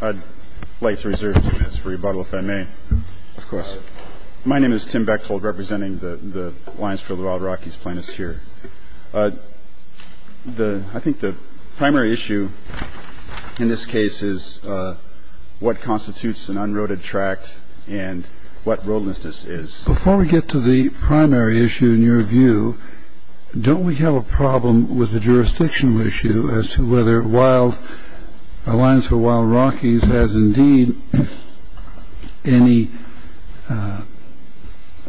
I'd like to reserve two minutes for rebuttal, if I may. Of course. My name is Tim Bechtold, representing the Alliance for the Wild Rockies plaintiffs here. I think the primary issue in this case is what constitutes an unroaded tract and what roadlessness is. Before we get to the primary issue, in your view, don't we have a problem with the jurisdictional issue as to whether the Alliance for the Wild Rockies has indeed any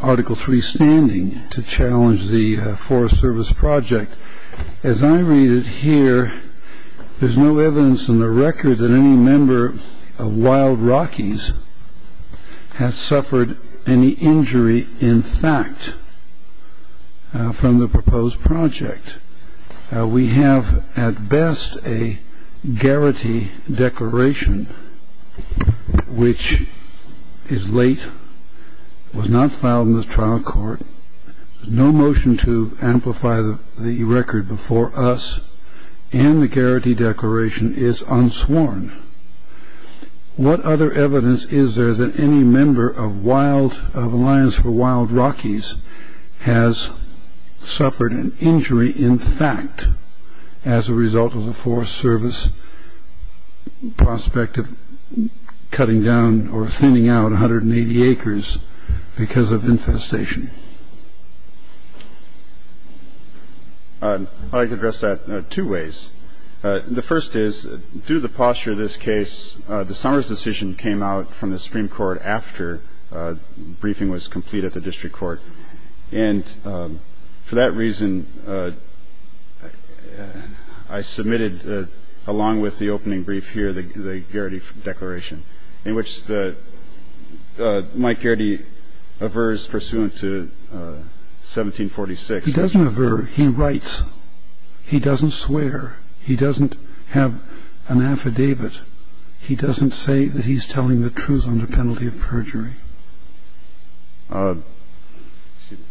Article 3 standing to challenge the Forest Service project? As I read it here, there's no evidence on the record that any member of Wild Rockies has suffered any injury in fact from the proposed project. We have at best a guarantee declaration, which is late, was not filed in the trial court, no motion to amplify the record before us, and the guarantee declaration is unsworn. What other evidence is there that any member of the Alliance for the Wild Rockies has suffered an injury in fact as a result of the Forest Service prospect of cutting down or thinning out 180 acres because of infestation? I'd like to address that two ways. The first is, due to the posture of this case, the Summers decision came out from the Supreme Court after briefing was complete at the district court. And for that reason, I submitted, along with the opening brief here, the guarantee declaration, in which Mike Geraghty averts pursuant to 1746. He doesn't avert. He writes. He doesn't swear. He doesn't have an affidavit. He doesn't say that he's telling the truth under penalty of perjury. Excuse me.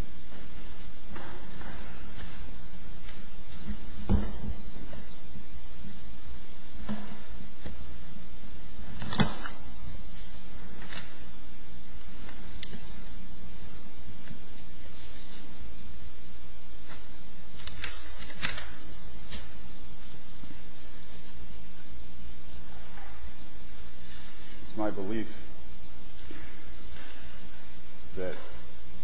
It's my belief that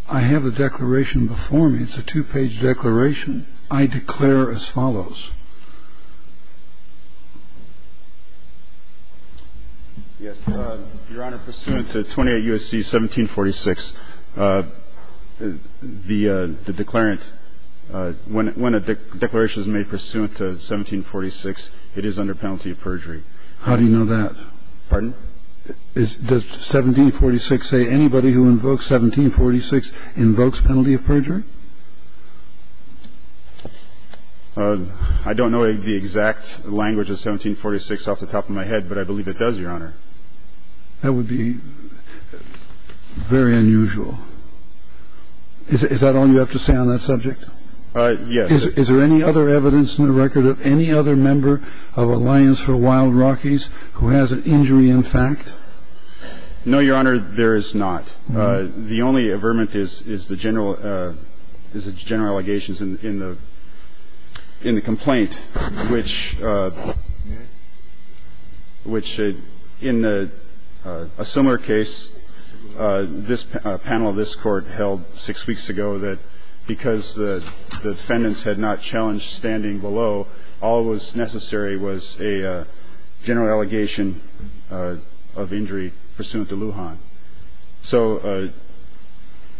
I have a declaration of interest. It's a two-page declaration. I declare as follows. Yes. Your Honor, pursuant to 28 U.S.C. 1746, the declarant, when a declaration is made pursuant to 1746, it is under penalty of perjury. How do you know that? Pardon? Does 1746 say anybody who invokes 1746 invokes penalty of perjury? I don't know the exact language of 1746 off the top of my head, but I believe it does, Your Honor. That would be very unusual. Is that all you have to say on that subject? Yes. Is there any other evidence in the record of any other member of Alliance for Wild Rockies who has an injury in fact? No, Your Honor, there is not. The only averment is the general allegations in the complaint, which in a similar case, this panel of this Court held six weeks ago that because the defendants had not challenged standing below, all that was necessary was a general allegation of injury pursuant to Lujan. So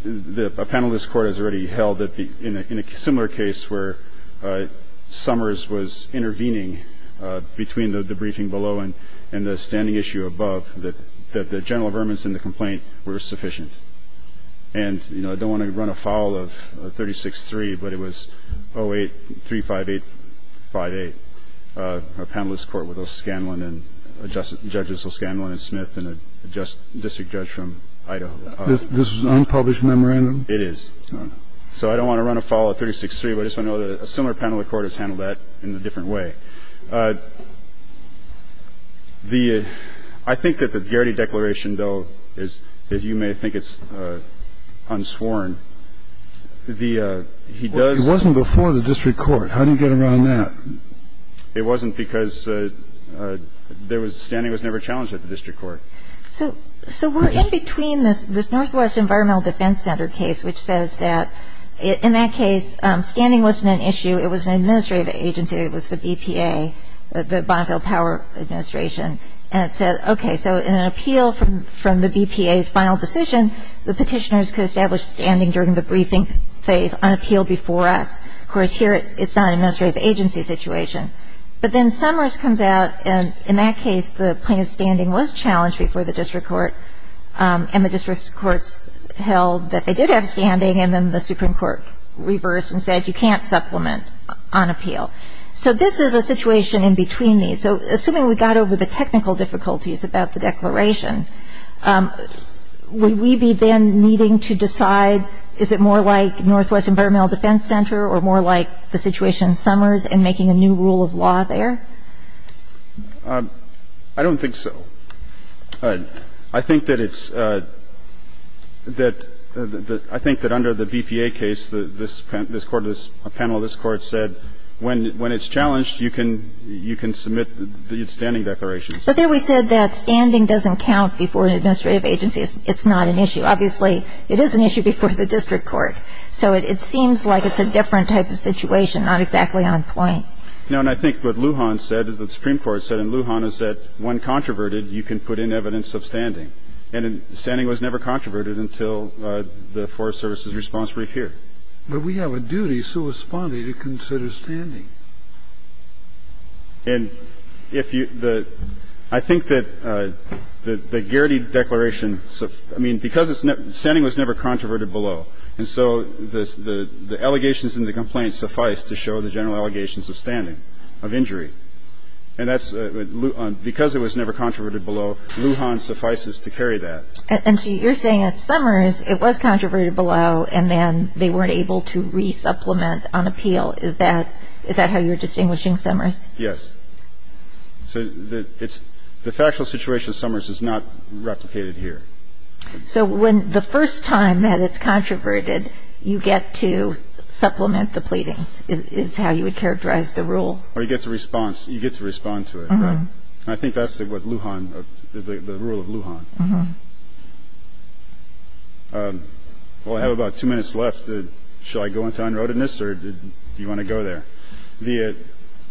a panel of this Court has already held that in a similar case where Summers was intervening between the briefing below and the standing issue above, that the general averments in the complaint were sufficient. And, you know, I don't want to run afoul of 36-3, but it was 08-358-58, a panelist court with O'Scanlan and Judges O'Scanlan and Smith and a district judge from Idaho. This is an unpublished memorandum? It is. So I don't want to run afoul of 36-3, but I just want to know that a similar panel of the Court has handled that in a different way. I think that the Garrity Declaration, though, as you may think it's unsworn, he does Well, it wasn't before the district court. How do you get around that? It wasn't because standing was never challenged at the district court. So we're in between this Northwest Environmental Defense Center case, which says that in that case, standing wasn't an issue. It was an administrative agency. It was the BPA. The Bonneville Power Administration. And it said, okay, so in an appeal from the BPA's final decision, the petitioners could establish standing during the briefing phase on appeal before us. Of course, here it's not an administrative agency situation. But then Summers comes out, and in that case, the plaintiff's standing was challenged before the district court, and the district courts held that they did have standing, and then the Supreme Court reversed and said you can't supplement on appeal. So this is a situation in between these. So assuming we got over the technical difficulties about the declaration, would we be then needing to decide, is it more like Northwest Environmental Defense Center or more like the situation in Summers and making a new rule of law there? I don't think so. I think that it's that the – I think that under the BPA case, this panel of this you can submit the standing declarations. But there we said that standing doesn't count before an administrative agency. It's not an issue. Obviously, it is an issue before the district court. So it seems like it's a different type of situation, not exactly on point. No, and I think what Lujan said, the Supreme Court said in Lujan, is that when controverted, you can put in evidence of standing. And standing was never controverted until the Forest Service's response brief here. But we have a duty, so was Spondy, to consider standing. And if you – I think that the Gearty declaration – I mean, because it's – standing was never controverted below. And so the allegations in the complaint suffice to show the general allegations of standing, of injury. And that's – because it was never controverted below, Lujan suffices to carry that. And so you're saying at Summers, it was controverted below, and then they weren't able to resupplement on appeal. Is that – is that how you're distinguishing Summers? Yes. So it's – the factual situation at Summers is not replicated here. So when – the first time that it's controverted, you get to supplement the pleadings, is how you would characterize the rule. Or you get to response – you get to respond to it, right? And I think that's what Lujan – the rule of Lujan. Well, I have about two minutes left. Should I go into unroadedness, or do you want to go there? The –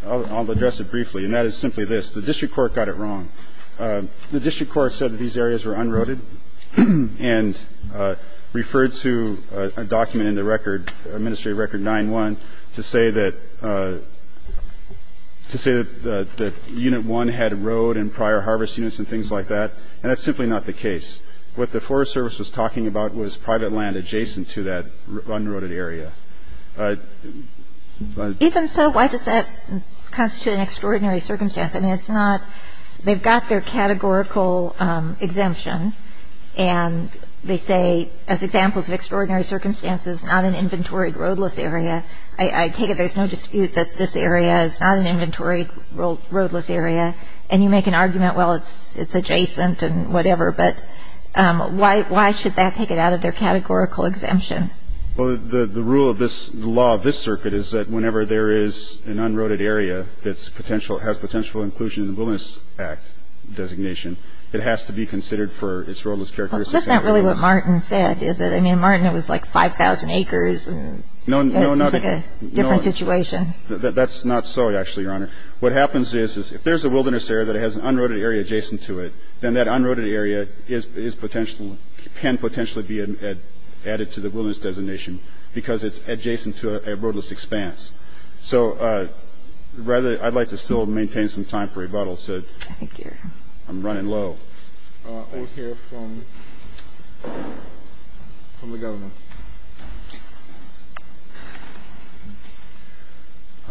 I'll address it briefly, and that is simply this. The district court got it wrong. The district court said that these areas were unroaded and referred to a document in the record, Administrative Record 9-1, to say that – to say that Unit 1 had road and prior harvest units and things like that. And that's simply not the case. What the Forest Service was talking about was private land adjacent to that unroaded area. Even so, why does that constitute an extraordinary circumstance? I mean, it's not – they've got their categorical exemption, and they say, as examples of extraordinary circumstances, not an inventoried roadless area. I take it there's no dispute that this area is not an inventoried roadless area. And you make an argument, well, it's adjacent and whatever. But why should that take it out of their categorical exemption? Well, the rule of this – the law of this circuit is that whenever there is an unroaded area that's potential – has potential inclusion in the Wilderness Act designation, it has to be considered for its roadless characteristics. That's not really what Martin said, is it? I mean, Martin, it was like 5,000 acres. No, not – It seems like a different situation. That's not so, actually, Your Honor. What happens is, if there's a wilderness area that has an unroaded area adjacent to it, then that unroaded area is potential – can potentially be added to the wilderness designation because it's adjacent to a roadless expanse. So rather – I'd like to still maintain some time for rebuttal, so I'm running low. We'll hear from the government.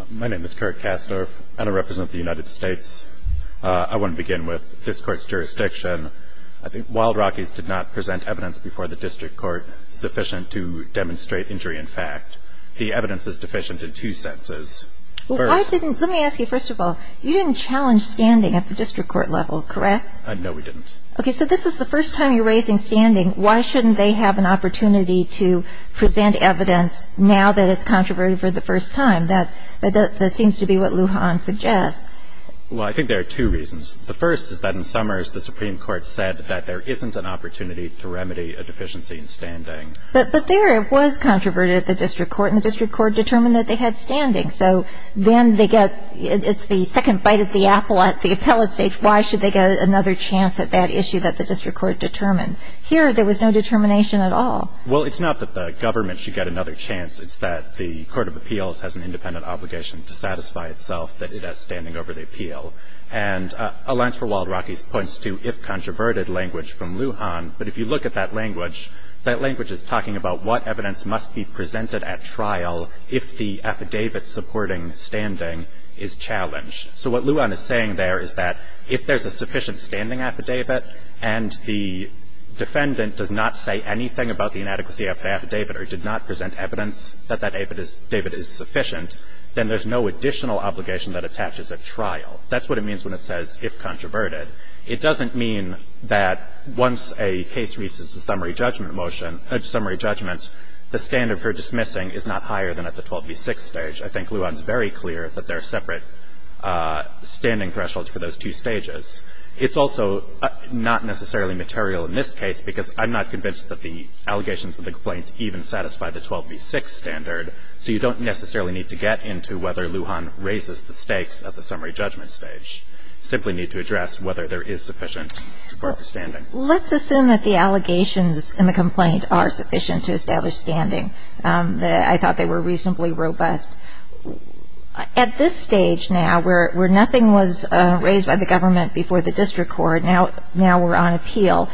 My name is Kurt Kassner, and I represent the United States. I want to begin with this Court's jurisdiction. I think Wild Rockies did not present evidence before the district court sufficient to demonstrate injury in fact. The evidence is deficient in two senses. First – Well, I didn't – let me ask you, first of all, you didn't challenge standing at the district court level, correct? No, we didn't. So this is the first time you're raising standing. Why shouldn't they have an opportunity to present evidence now that it's controverted for the first time? That seems to be what Lujan suggests. Well, I think there are two reasons. The first is that in Summers, the Supreme Court said that there isn't an opportunity to remedy a deficiency in standing. But there it was controverted at the district court, and the district court determined that they had standing. So then they get – it's the second bite of the apple at the appellate stage. Why should they get another chance at that issue that the district court determined? Here, there was no determination at all. Well, it's not that the government should get another chance. It's that the court of appeals has an independent obligation to satisfy itself that it has standing over the appeal. And Alliance for Wild Rockies points to if controverted language from Lujan. But if you look at that language, that language is talking about what evidence must be presented at trial if the affidavit supporting standing is challenged. So what Lujan is saying there is that if there's a sufficient standing affidavit and the defendant does not say anything about the inadequacy of the affidavit or did not present evidence that that affidavit is sufficient, then there's no additional obligation that attaches at trial. That's what it means when it says if controverted. It doesn't mean that once a case reaches a summary judgment motion – a summary judgment, the standard for dismissing is not higher than at the 12B6 stage. I think Lujan is very clear that there are separate standing thresholds for those two stages. It's also not necessarily material in this case because I'm not convinced that the allegations of the complaint even satisfy the 12B6 standard. So you don't necessarily need to get into whether Lujan raises the stakes at the summary judgment stage. You simply need to address whether there is sufficient support for standing. Let's assume that the allegations in the complaint are sufficient to establish standing. I thought they were reasonably robust. At this stage now where nothing was raised by the government before the district court, now we're on appeal.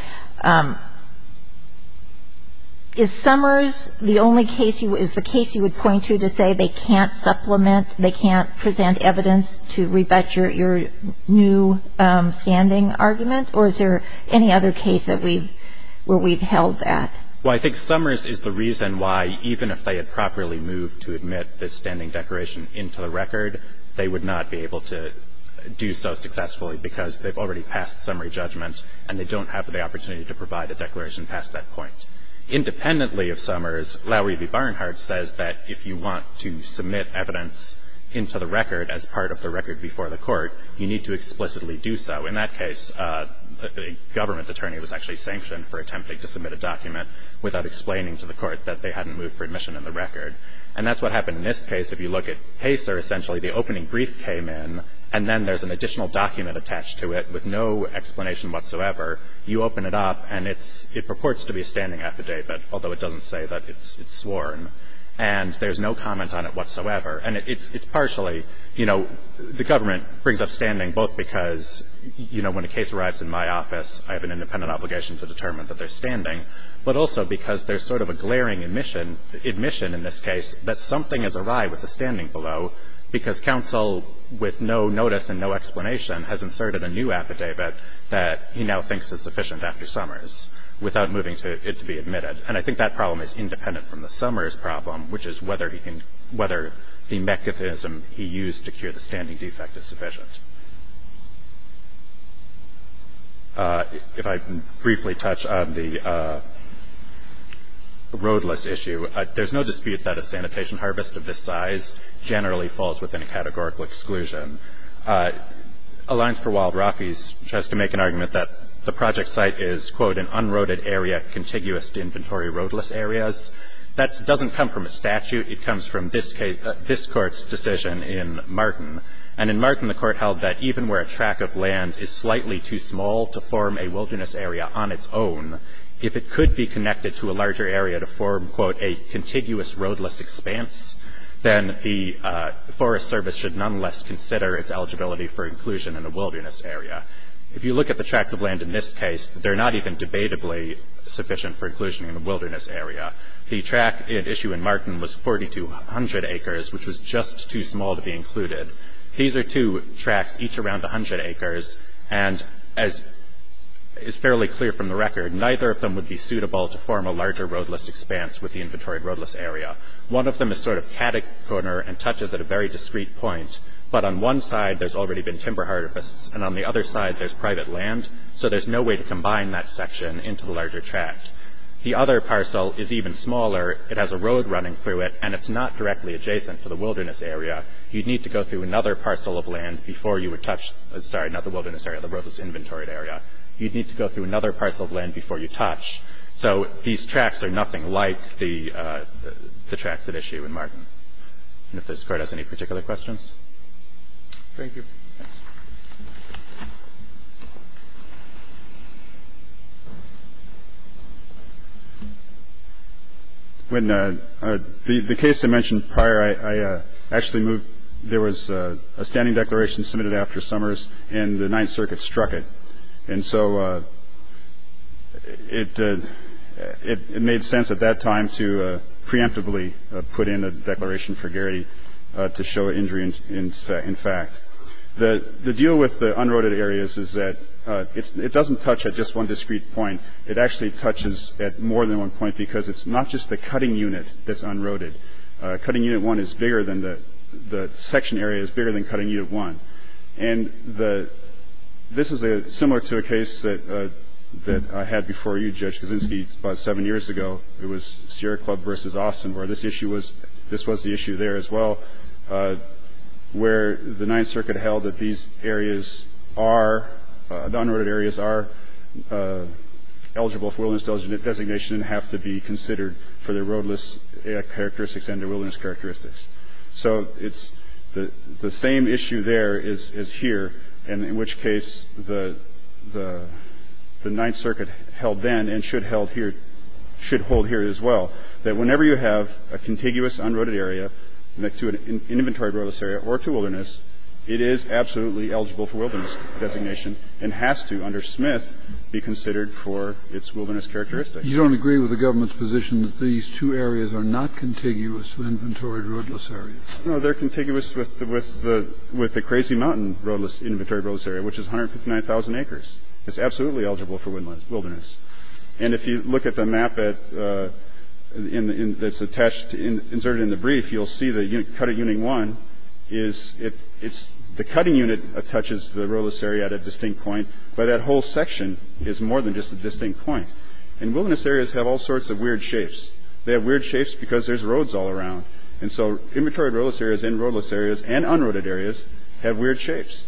Is Summers the only case you – is the case you would point to to say they can't supplement, they can't present evidence to rebut your new standing argument, or is there any other case that we've – where we've held that? Well, I think Summers is the reason why, even if they had properly moved to admit this standing declaration into the record, they would not be able to do so successfully because they've already passed summary judgment and they don't have the opportunity to provide a declaration past that point. Independently of Summers, Lowery v. Barnhart says that if you want to submit evidence into the record as part of the record before the court, you need to explicitly do so. In that case, the government attorney was actually sanctioned for attempting to submit a document without explaining to the court that they hadn't moved for admission in the record. And that's what happened in this case. If you look at Pacer, essentially, the opening brief came in and then there's an additional document attached to it with no explanation whatsoever. You open it up and it's – it purports to be a standing affidavit, although it doesn't say that it's sworn. And there's no comment on it whatsoever. And it's partially, you know, the government brings up standing both because, you know, when a case arrives in my office, I have an independent obligation to determine that they're standing, but also because there's sort of a glaring admission – admission in this case that something is awry with the standing below because counsel with no notice and no explanation has inserted a new affidavit that he now thinks is sufficient after Summers without moving it to be admitted. And I think that problem is independent from the Summers problem, which is whether he can – whether the mechanism he used to cure the standing defect is sufficient. If I can briefly touch on the roadless issue, there's no dispute that a sanitation harvest of this size generally falls within a categorical exclusion. Alliance for Wild Rockies tries to make an argument that the project site is, quote, an unroaded area contiguous to inventory roadless areas. That doesn't come from a statute. It comes from this case – this Court's decision in Martin. And in Martin, the Court held that even where a track of land is slightly too small to form a wilderness area on its own, if it could be connected to a larger area to form, quote, a contiguous roadless expanse, then the Forest Service should nonetheless consider its eligibility for inclusion in a wilderness area. If you look at the tracks of land in this case, they're not even debatably sufficient for inclusion in a wilderness area. The track at issue in Martin was 4,200 acres, which was just too small to be included. These are two tracks, each around 100 acres. And as is fairly clear from the record, neither of them would be suitable to form a larger roadless expanse with the inventory roadless area. One of them is sort of categorical and touches at a very discreet point. But on one side, there's already been timber harvest, and on the other side, there's private land, so there's no way to combine that section into the larger track. The other parcel is even smaller. It has a road running through it, and it's not directly adjacent to the wilderness area. You'd need to go through another parcel of land before you would touch the roadless inventory area. You'd need to go through another parcel of land before you touch. So these tracks are nothing like the tracks at issue in Martin. And if this Court has any particular questions. Thank you. Thanks. The case I mentioned prior, I actually moved. There was a standing declaration submitted after summers, and the Ninth Circuit struck it. And so it made sense at that time to preemptively put in a declaration for Garrity to show injury in fact. The deal with the unroaded areas is that it doesn't touch at just one discreet point. It actually touches at more than one point because it's not just the cutting unit that's unroaded. Cutting unit one is bigger than the section area is bigger than cutting unit one. And this is similar to a case that I had before you, Judge Kavinsky, about seven years ago. It was Sierra Club versus Austin, where this issue was the issue there as well, where the Ninth Circuit held that these areas are, unroaded areas are eligible for wilderness designation and have to be considered for their roadless characteristics and their wilderness characteristics. So it's the same issue there as here, in which case the Ninth Circuit held then and should hold here as well, that whenever you have a contiguous unroaded area to an inventory roadless area or to wilderness, it is absolutely eligible for wilderness designation and has to, under Smith, be considered for its wilderness characteristics. Kennedy. You don't agree with the government's position that these two areas are not contiguous to inventory roadless areas? No, they're contiguous with the Crazy Mountain inventory roadless area, which is 159,000 acres. It's absolutely eligible for wilderness. And if you look at the map that's inserted in the brief, you'll see that Cutting Unit 1, the cutting unit touches the roadless area at a distinct point, but that whole section is more than just a distinct point. And wilderness areas have all sorts of weird shapes. They have weird shapes because there's roads all around. And so inventory roadless areas and roadless areas and unroaded areas have weird shapes,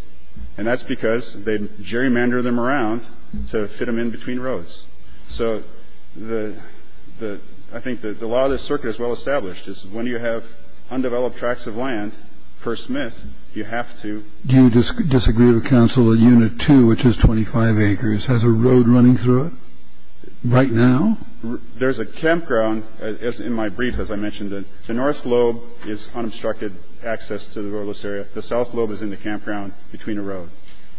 and that's because they gerrymander them around to fit them in between roads. So I think the law of this circuit is well established, is when you have undeveloped tracts of land, per Smith, you have to. Do you disagree with Council that Unit 2, which is 25 acres, has a road running through it right now? There's a campground in my brief, as I mentioned. The north lobe is unobstructed access to the roadless area. The south lobe is in the campground between the road.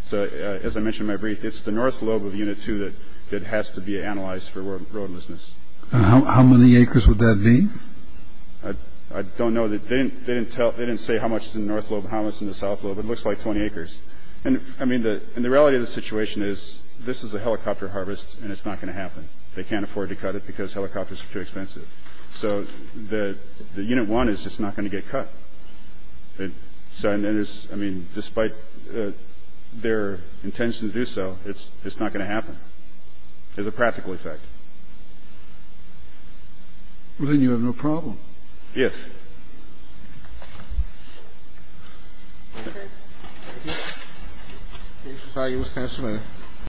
So as I mentioned in my brief, it's the north lobe of Unit 2 that has to be analyzed for roadlessness. How many acres would that be? I don't know. They didn't say how much is in the north lobe and how much is in the south lobe. It looks like 20 acres. And the reality of the situation is this is a helicopter harvest, and it's not going to happen. They can't afford to cut it because helicopters are too expensive. So Unit 1 is just not going to get cut. So, I mean, despite their intention to do so, it's not going to happen. There's a practical effect. Well, then you have no problem. Yes.